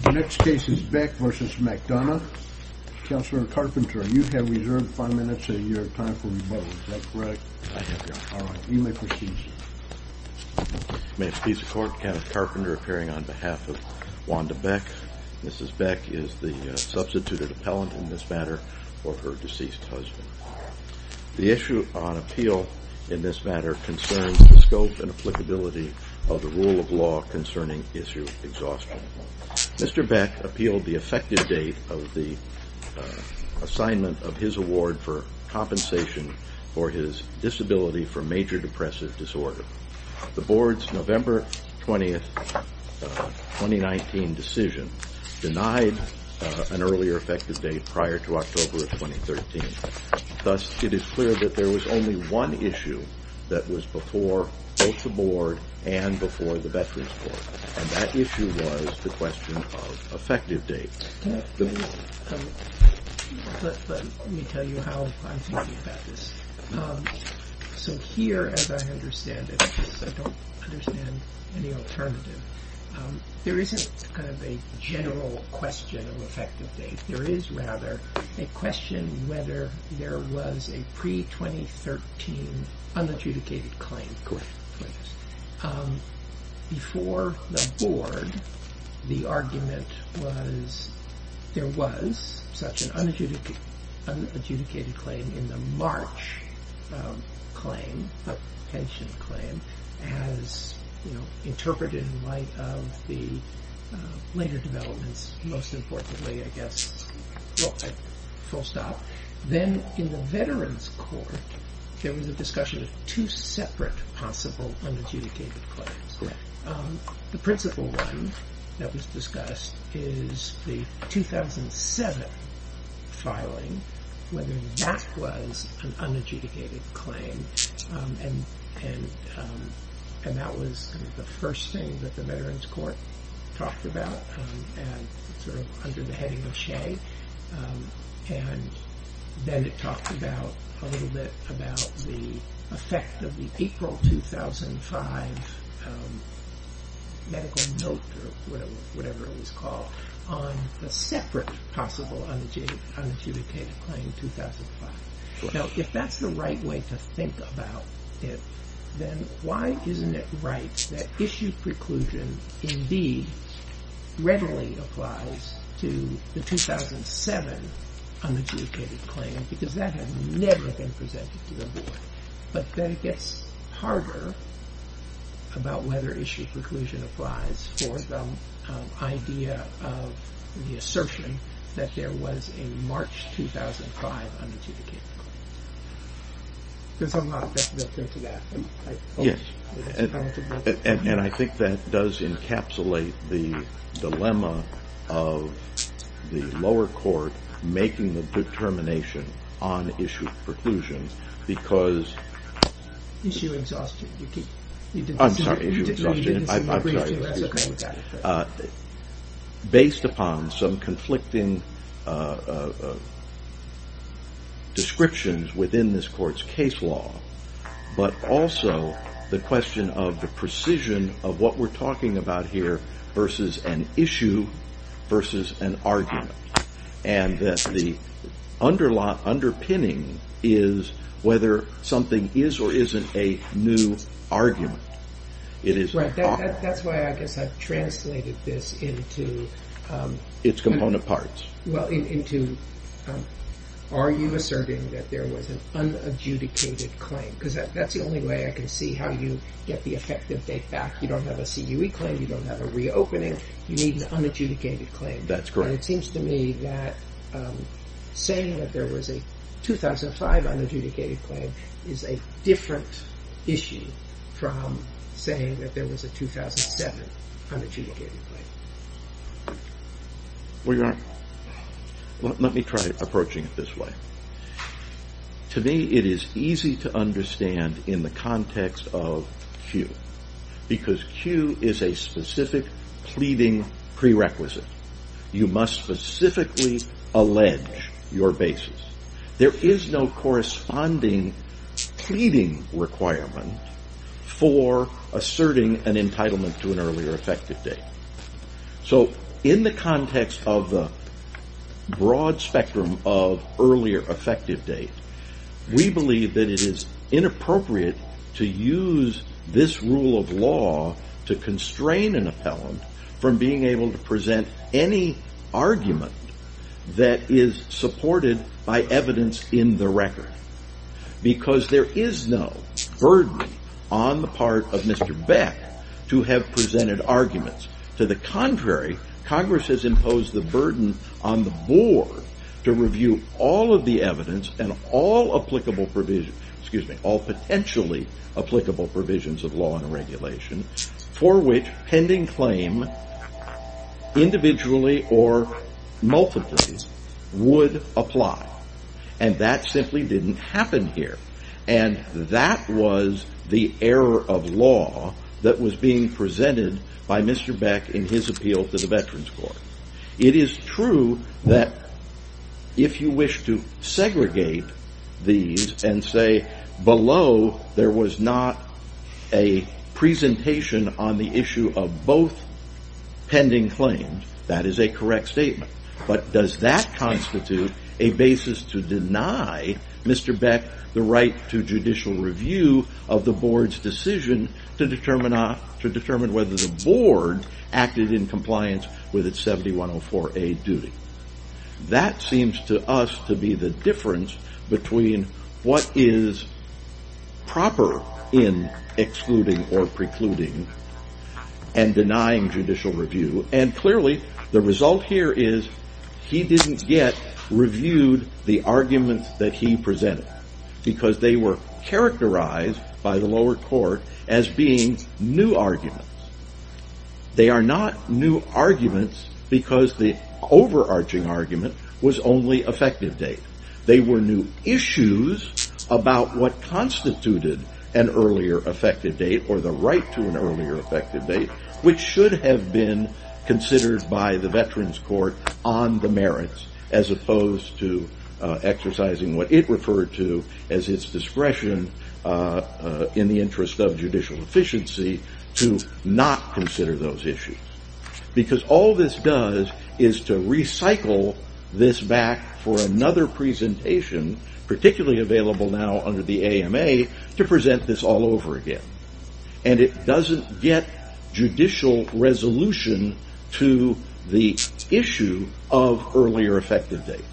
The next case is Beck v. McDonough. Counselor Carpenter, you have reserved five minutes of your time for rebuttal. Is that correct? I have, Your Honor. All right. You may proceed, sir. May it please the Court, Kenneth Carpenter appearing on behalf of Wanda Beck. Mrs. Beck is the substituted appellant in this matter for her deceased husband. The issue on appeal in this matter concerns the scope and applicability of the rule of law concerning issue exhaustion. Mr. Beck appealed the effective date of the assignment of his award for compensation for his disability from major depressive disorder. The Board's November 20, 2019, decision denied an earlier effective date prior to October of 2013. Thus, it is clear that there was only one issue that was before both the Board and before the Veterans Court. And that issue was the question of effective date. Let me tell you how I'm thinking about this. So here, as I understand it, because I don't understand any alternative, there isn't kind of a general question of effective date. There is, rather, a question whether there was a pre-2013 unadjudicated claim. Correct. Before the Board, the argument was there was such an unadjudicated claim in the March claim, the pension claim, as interpreted in light of the later developments, most importantly, I guess, full stop. Then, in the Veterans Court, there was a discussion of two separate possible unadjudicated claims. The principal one that was discussed is the 2007 filing, whether that was an unadjudicated claim. And that was the first thing that the Veterans Court talked about, sort of under the heading of Shea. And then it talked a little bit about the effect of the April 2005 medical note, or whatever it was called, on a separate possible unadjudicated claim in 2005. Now, if that's the right way to think about it, then why isn't it right that issue preclusion indeed readily applies to the 2007 unadjudicated claim? Because that had never been presented to the Board. But then it gets harder about whether issue preclusion applies for the idea of the assertion that there was a March 2005 unadjudicated claim. There's a lot that goes into that. Yes, and I think that does encapsulate the dilemma of the lower court making the determination on issue preclusion because... Issue exhaustion. I'm sorry, issue exhaustion. I'm sorry, excuse me. Based upon some conflicting descriptions within this court's case law, but also the question of the precision of what we're talking about here versus an issue versus an argument. And that the underpinning is whether something is or isn't a new argument. Right, that's why I guess I've translated this into... Its component parts. Well, into are you asserting that there was an unadjudicated claim? Because that's the only way I can see how you get the effective date back. You don't have a CUE claim. You don't have a reopening. You need an unadjudicated claim. That's correct. And it seems to me that saying that there was a 2005 unadjudicated claim is a different issue from saying that there was a 2007 unadjudicated claim. Let me try approaching it this way. To me, it is easy to understand in the context of CUE. Because CUE is a specific pleading prerequisite. You must specifically allege your basis. There is no corresponding pleading requirement for asserting an entitlement to an earlier effective date. So in the context of the broad spectrum of earlier effective date, we believe that it is inappropriate to use this rule of law to constrain an appellant from being able to present any argument that is supported by evidence in the record. Because there is no burden on the part of Mr. Beck to have presented arguments. To the contrary, Congress has imposed the burden on the board to review all of the evidence and all potentially applicable provisions of law and regulation for which pending claim individually or multiply would apply. And that simply didn't happen here. And that was the error of law that was being presented by Mr. Beck in his appeal to the Veterans Court. It is true that if you wish to segregate these and say below there was not a presentation on the issue of both pending claims, that is a correct statement. But does that constitute a basis to deny Mr. Beck the right to judicial review of the board's decision to determine whether the board acted in compliance with its 7104A duty? That seems to us to be the difference between what is proper in excluding or precluding and denying judicial review. And clearly the result here is he didn't get reviewed the arguments that he presented. Because they were characterized by the lower court as being new arguments. They are not new arguments because the overarching argument was only effective date. They were new issues about what constituted an earlier effective date or the right to an earlier effective date which should have been considered by the Veterans Court on the merits as opposed to exercising what it referred to as its discretion in the interest of judicial efficiency to not consider those issues. Because all this does is to recycle this back for another presentation particularly available now under the AMA to present this all over again. And it doesn't get judicial resolution to the issue of earlier effective date.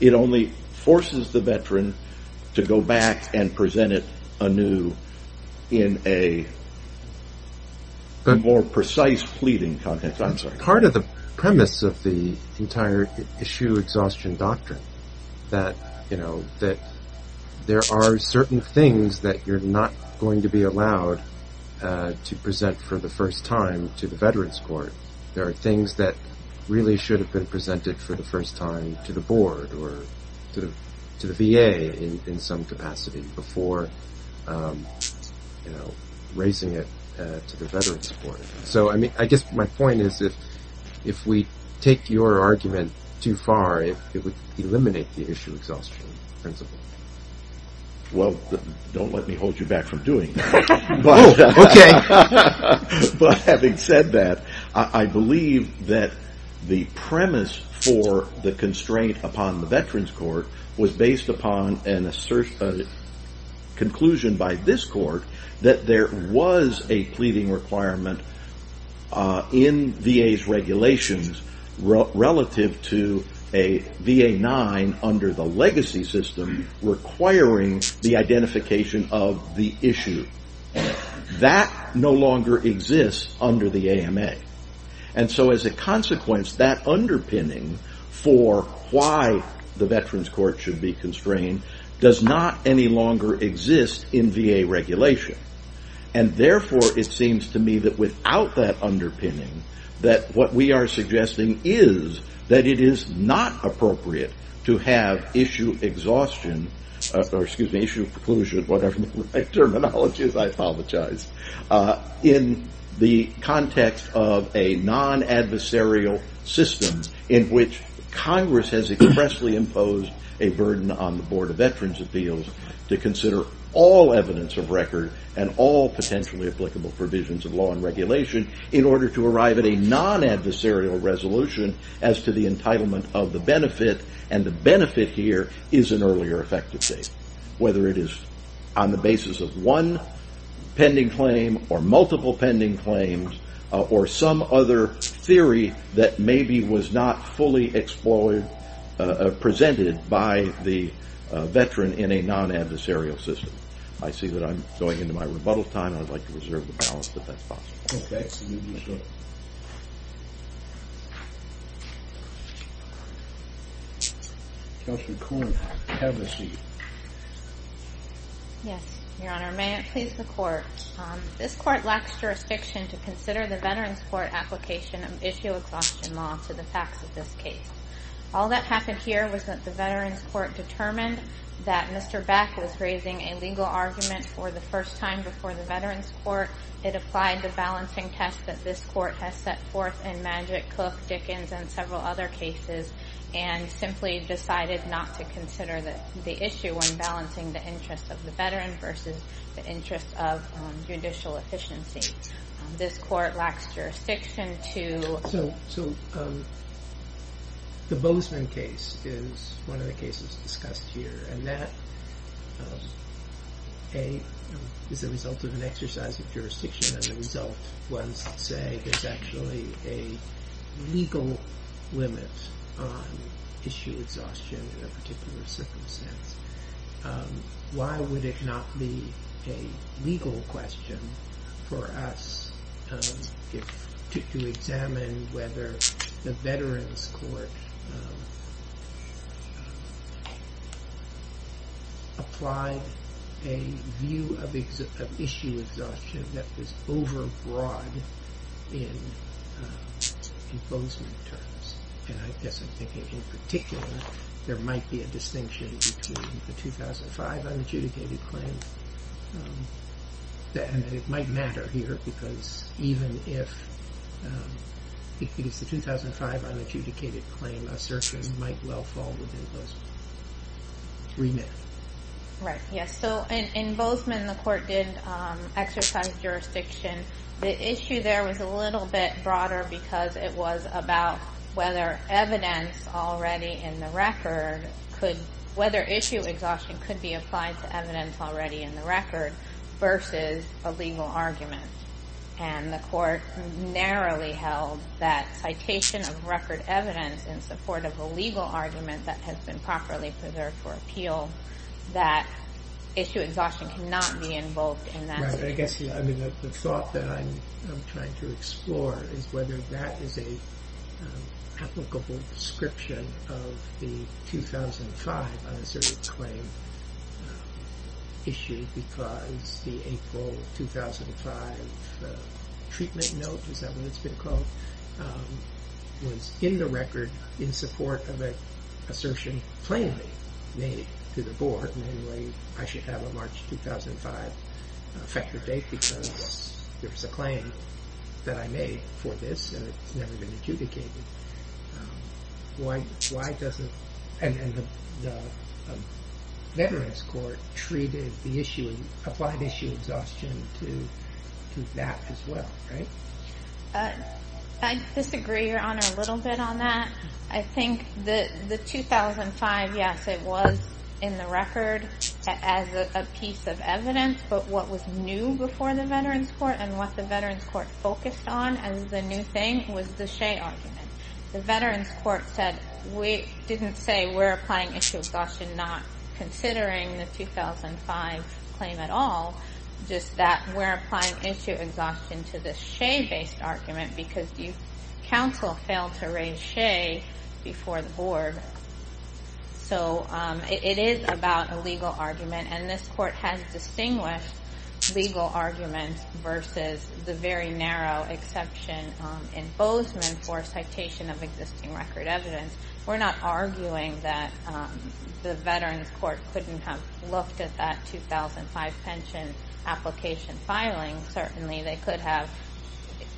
It only forces the veteran to go back and present it anew in a more precise pleading context. Part of the premise of the entire issue exhaustion doctrine that there are certain things that you're not going to be allowed to present for the first time to the Veterans Court. There are things that really should have been presented for the first time to the board or to the VA in some capacity before raising it to the Veterans Court. So I mean I guess my point is if we take your argument too far it would eliminate the issue exhaustion principle. Well don't let me hold you back from doing that. But having said that I believe that the premise for the constraint upon the Veterans Court was based upon a conclusion by this court that there was a pleading requirement in VA's regulations relative to a VA 9 under the legacy system requiring the identification of the issue. That no longer exists under the AMA. And so as a consequence that underpinning for why the Veterans Court should be constrained does not any longer exist in VA regulation. And therefore it seems to me that without that underpinning that what we are suggesting is that it is not appropriate to have issue exhaustion or excuse me issue preclusion whatever the right terminology is I apologize. In the context of a non-adversarial system in which Congress has expressly imposed a burden on the Board of Veterans Appeals to consider all evidence of record and all potentially applicable provisions of law and regulation in order to arrive at a non-adversarial resolution as to the entitlement of the benefit. And the benefit here is an earlier effective date. Whether it is on the basis of one pending claim or multiple pending claims or some other theory that maybe was not fully explored presented by the veteran in a non-adversarial system. I see that I am going into my rebuttal time and I would like to reserve the balance if that is possible. Yes, Your Honor, may it please the Court. This Court lacks jurisdiction to consider the Veterans Court application of issue exhaustion law to the facts of this case. All that happened here was that the Veterans Court determined that Mr. Beck was raising a legal argument for the first time before the Veterans Court. It applied the balancing test that this Court has set forth in Magic, Cook, Dickens and several other cases and simply decided not to consider the issue when balancing the interest of the veteran versus the interest of judicial efficiency. This Court lacks jurisdiction to... Why would it not be a legal question for us to examine whether the Veterans Court applied a view of issue exhaustion that was overbroad in Bozeman terms. And I guess I'm thinking in particular there might be a distinction between the 2005 unadjudicated claim and it might matter here because even if it is the 2005 unadjudicated claim, a certian might well fall within those three minutes. Right, yes, so in Bozeman the Court did exercise jurisdiction. The issue there was a little bit broader because it was about whether evidence already in the record could... whether issue exhaustion could be applied to evidence already in the record versus a legal argument. And the Court narrowly held that citation of record evidence in support of a legal argument that has been properly preserved for appeal, that issue exhaustion cannot be involved in that situation. The thought that I'm trying to explore is whether that is an applicable description of the 2005 unasserted claim issue because the April 2005 treatment note, is that what it's been called? It was in the record in support of an assertion plainly made to the Board, namely I should have a March 2005 effector date because there was a claim that I made for this and it's never been adjudicated. Why doesn't... and the Veterans Court treated the issue, applied issue exhaustion to that as well, right? I disagree, Your Honor, a little bit on that. I think the 2005, yes, it was in the record as a piece of evidence, but what was new before the Veterans Court and what the Veterans Court focused on as the new thing was the Shea argument. The Veterans Court said, we didn't say we're applying issue exhaustion not considering the 2005 claim at all, just that we're applying issue exhaustion to the Shea-based argument because the counsel failed to raise Shea before the Board. So it is about a legal argument and this Court has distinguished legal arguments versus the very narrow exception in Bozeman for citation of existing record evidence. We're not arguing that the Veterans Court couldn't have looked at that 2005 pension application filing. Certainly, they could have.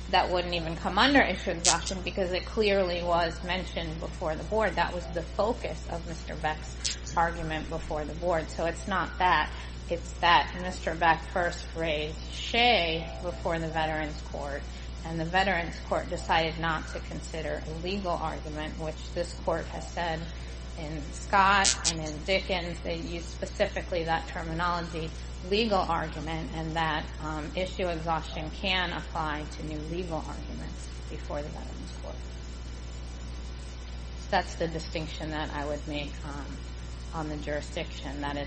That wouldn't even come under issue exhaustion because it clearly was mentioned before the Board. That was the focus of Mr. Beck's argument before the Board. So it's not that. It's that Mr. Beck first raised Shea before the Veterans Court and the Veterans Court decided not to consider a legal argument, which this Court has said in Scott and in Dickens. They used specifically that terminology, legal argument, and that issue exhaustion can apply to new legal arguments before the Veterans Court. That's the distinction that I would make on the jurisdiction, that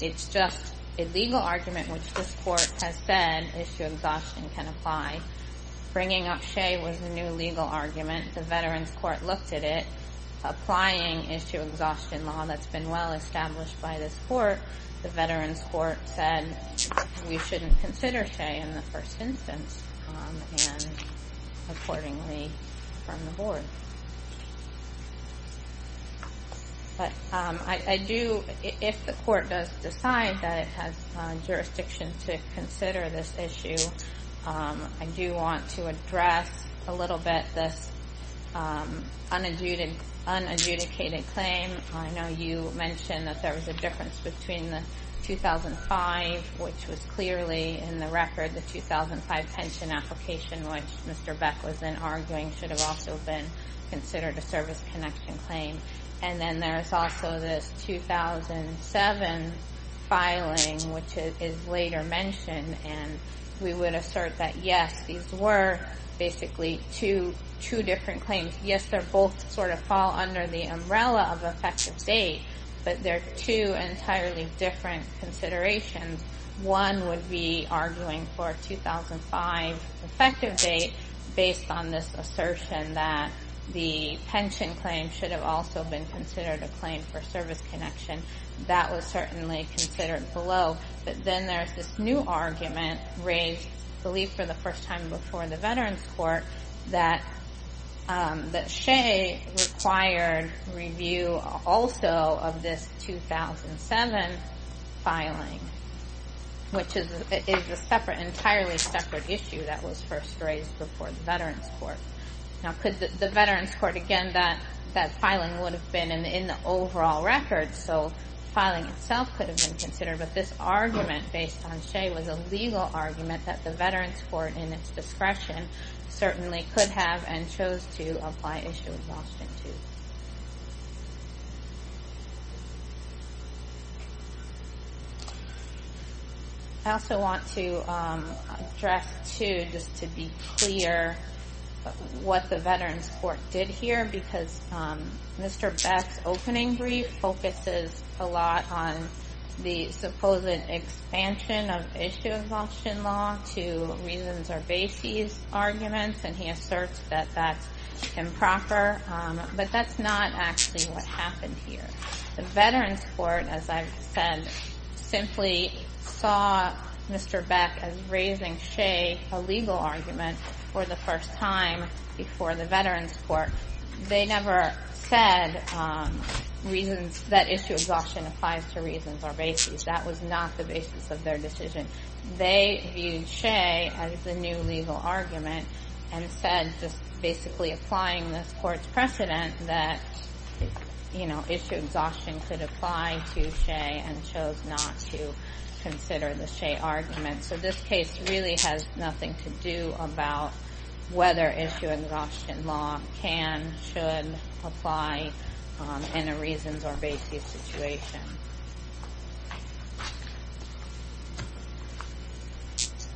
it's just a legal argument, which this Court has said issue exhaustion can apply. Bringing up Shea was a new legal argument. The Veterans Court looked at it. Applying issue exhaustion law that's been well established by this Court, the Veterans Court said we shouldn't consider Shea in the first instance and accordingly from the Board. If the Court does decide that it has jurisdiction to consider this issue, I do want to address a little bit this unadjudicated claim. I know you mentioned that there was a difference between the 2005, which was clearly in the record, the 2005 pension application, which Mr. Beck was then arguing should have also been considered a service connection claim. And then there is also this 2007 filing, which is later mentioned. And we would assert that, yes, these were basically two different claims. Yes, they both sort of fall under the umbrella of effective date, but they're two entirely different considerations. One would be arguing for 2005 effective date based on this assertion that the pension claim should have also been considered a claim for service connection. That was certainly considered below. But then there's this new argument raised, I believe for the first time before the Veterans Court, that Shea required review also of this 2007 filing, which is an entirely separate issue that was first raised before the Veterans Court. Now, could the Veterans Court, again, that filing would have been in the overall record, so filing itself could have been considered. But this argument based on Shea was a legal argument that the Veterans Court, in its discretion, certainly could have and chose to apply Issue of Exhaustion to. I also want to address, too, just to be clear what the Veterans Court did here, because Mr. Beck's opening brief focuses a lot on the supposed expansion of Issue of Exhaustion law to reasons or bases arguments. And he asserts that that's improper, but that's not actually what happened here. The Veterans Court, as I've said, simply saw Mr. Beck as raising Shea a legal argument for the first time before the Veterans Court. They never said that Issue of Exhaustion applies to reasons or bases. That was not the basis of their decision. They viewed Shea as the new legal argument and said, just basically applying this Court's precedent, that Issue of Exhaustion could apply to Shea and chose not to consider the Shea argument. So this case really has nothing to do about whether Issue of Exhaustion law can, should, apply in a reasons or bases situation.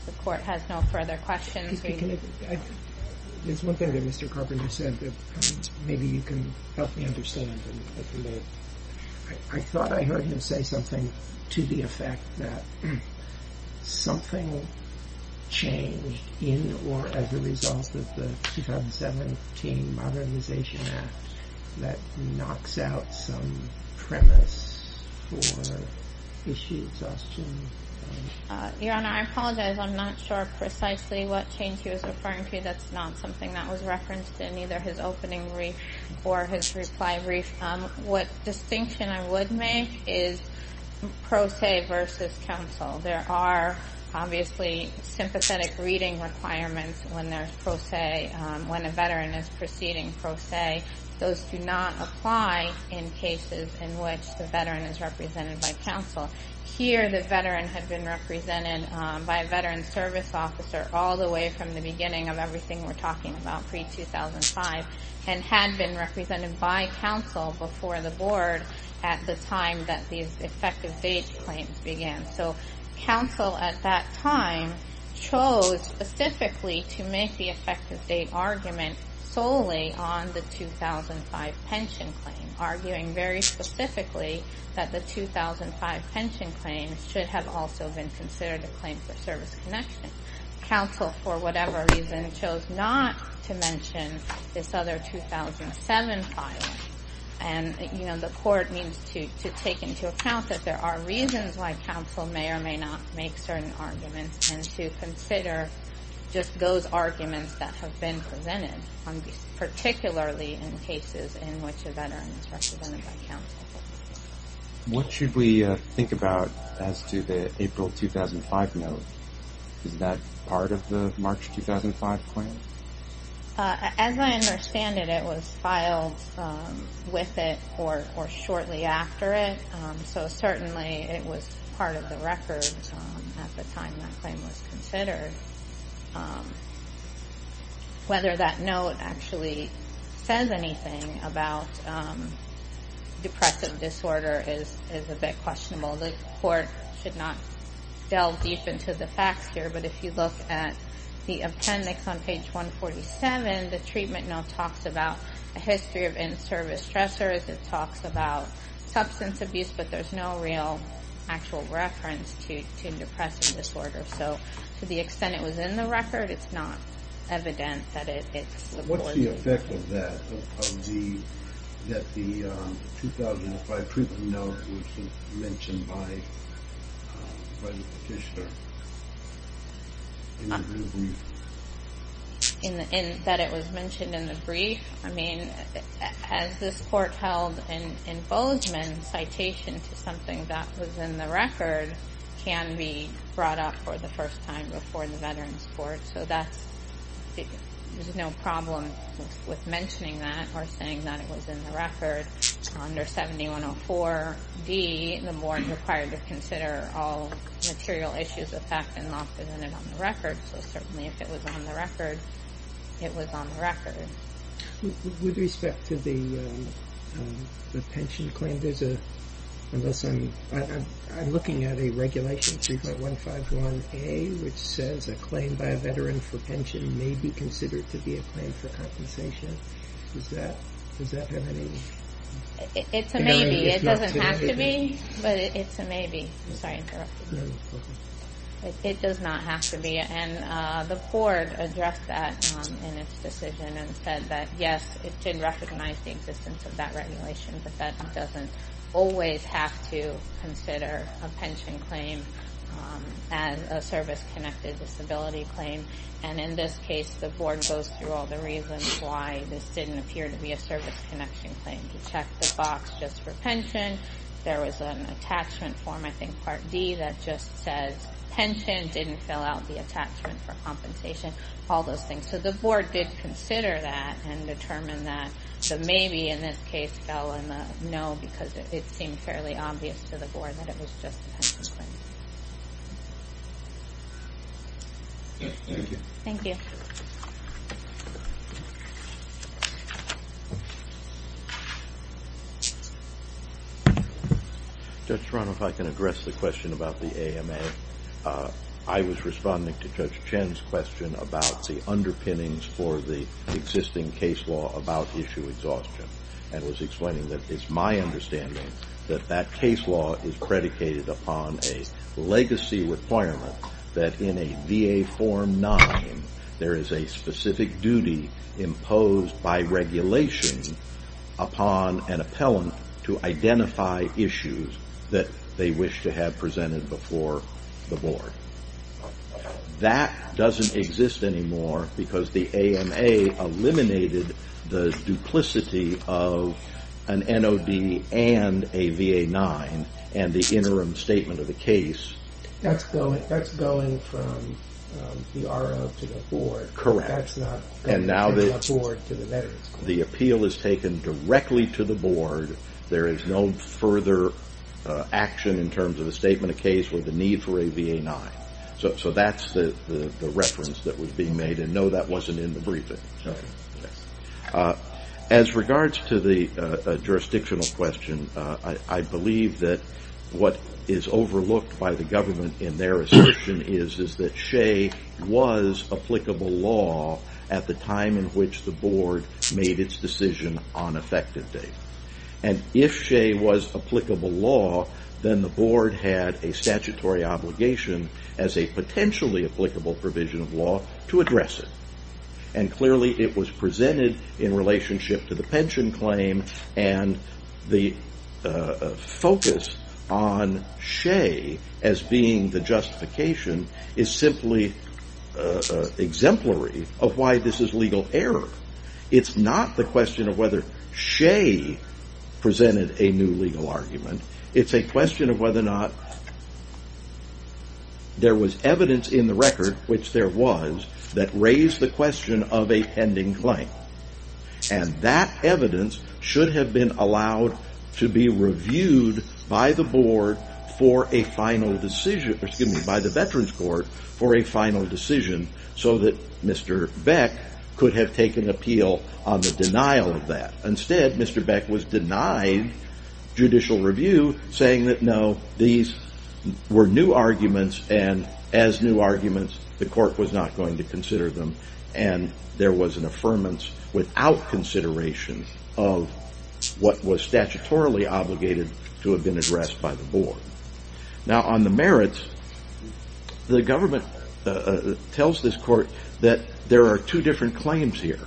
The Court has no further questions. There's one thing that Mr. Carpenter said that maybe you can help me understand. I thought I heard him say something to the effect that something changed in or as a result of the 2017 Modernization Act that knocks out some premise for Issue of Exhaustion. Your Honor, I apologize. I'm not sure precisely what change he was referring to. That's not something that was referenced in either his opening brief or his reply brief. What distinction I would make is pro se versus counsel. There are obviously sympathetic reading requirements when there's pro se, when a Veteran is proceeding pro se. Those do not apply in cases in which the Veteran is represented by counsel. Here, the Veteran had been represented by a Veterans Service Officer all the way from the beginning of everything we're talking about pre-2005 and had been represented by counsel before the Board at the time that these effective date claims began. So counsel at that time chose specifically to make the effective date argument solely on the 2005 pension claim, arguing very specifically that the 2005 pension claim should have also been considered a claim for service connection. Counsel, for whatever reason, chose not to mention this other 2007 filing. And, you know, the Court needs to take into account that there are reasons why counsel may or may not make certain arguments and to consider just those arguments that have been presented, particularly in cases in which a Veteran is represented by counsel. What should we think about as to the April 2005 note? Is that part of the March 2005 claim? As I understand it, it was filed with it or shortly after it. So certainly it was part of the record at the time that claim was considered. Whether that note actually says anything about depressive disorder is a bit questionable. The Court should not delve deep into the facts here, but if you look at the appendix on page 147, the treatment note talks about a history of in-service stressors. It talks about substance abuse, but there's no real actual reference to depressive disorder. So to the extent it was in the record, it's not evident that it's the poison. What's the effect of that, that the 2005 treatment note was mentioned by the petitioner? In the brief? That it was mentioned in the brief? I mean, as this Court held in Bozeman, citation to something that was in the record can be brought up for the first time before the Veterans Court. So there's no problem with mentioning that or saying that it was in the record. Under 7104D, the Board is required to consider all material issues of fact and not present it on the record. So certainly if it was on the record, it was on the record. With respect to the pension claim, I'm looking at a regulation 3.151A, which says a claim by a veteran for pension may be considered to be a claim for compensation. Does that have any... It's a maybe. It doesn't have to be, but it's a maybe. Sorry, I interrupted you. It does not have to be, and the Court addressed that in its decision and said that yes, it did recognize the existence of that regulation, but that doesn't always have to consider a pension claim as a service-connected disability claim. And in this case, the Board goes through all the reasons why this didn't appear to be a service-connection claim. We checked the box just for pension. There was an attachment form, I think, Part D, that just says pension, didn't fill out the attachment for compensation, all those things. So the Board did consider that and determined that the maybe in this case fell in the no because it seemed fairly obvious to the Board that it was just a pension claim. Thank you. Thank you. Judge Toronto, if I can address the question about the AMA. I was responding to Judge Chen's question about the underpinnings for the existing case law about issue exhaustion and was explaining that it's my understanding that that case law is predicated upon a legacy requirement that in a VA Form 9, there is a specific duty imposed by regulation upon an appellant to identify issues that they wish to have presented before the Board. That doesn't exist anymore because the AMA eliminated the duplicity of an NOD and a VA 9 and the interim statement of the case. That's going from the RO to the Board. Correct. That's not going from the Board to the veterans. The appeal is taken directly to the Board. There is no further action in terms of a statement of case with a need for a VA 9. So that's the reference that was being made and no, that wasn't in the briefing. Okay. As regards to the jurisdictional question, I believe that what is overlooked by the government in their assertion is that SHAE was applicable law at the time in which the Board made its decision on effective date. If SHAE was applicable law, then the Board had a statutory obligation as a potentially applicable provision of law to address it. Clearly, it was presented in relationship to the pension claim and the focus on SHAE as being the justification is simply exemplary of why this is legal error. It's not the question of whether SHAE presented a new legal argument. It's a question of whether or not there was evidence in the record, which there was, that raised the question of a pending claim. That evidence should have been allowed to be reviewed by the Veterans Court for a final decision so that Mr. Beck could have taken appeal on the denial of that. Instead, Mr. Beck was denied judicial review, saying that no, these were new arguments and as new arguments, the Court was not going to consider them and there was an affirmance without consideration of what was statutorily obligated to have been addressed by the Board. Now, on the merits, the government tells this Court that there are two different claims here.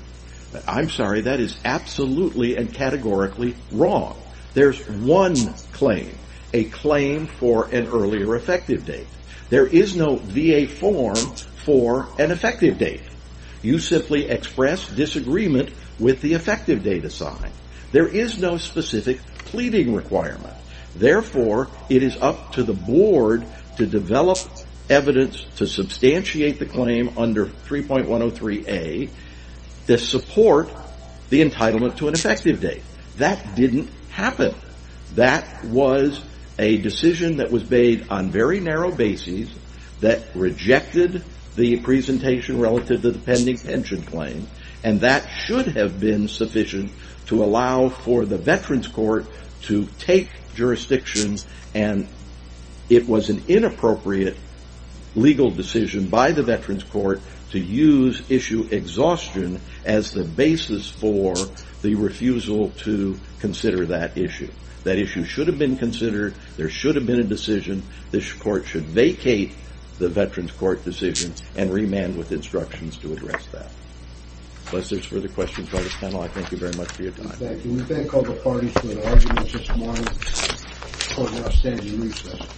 I'm sorry, that is absolutely and categorically wrong. There's one claim, a claim for an earlier effective date. There is no VA form for an effective date. You simply express disagreement with the effective date assigned. There is no specific pleading requirement. Therefore, it is up to the Board to develop evidence to substantiate the claim under 3.103A to support the entitlement to an effective date. That didn't happen. That was a decision that was made on a very narrow basis that rejected the presentation relative to the pending pension claim and that should have been sufficient to allow for the Veterans Court to take jurisdiction and it was an inappropriate legal decision by the Veterans Court to use issue exhaustion as the basis for the refusal to consider that issue. That issue should have been considered. There should have been a decision. This Court should vacate the Veterans Court decision and remand with instructions to address that. Unless there are further questions by the panel, I thank you very much for your time. Thank you. We thank all the parties for their arguments this morning for their outstanding research.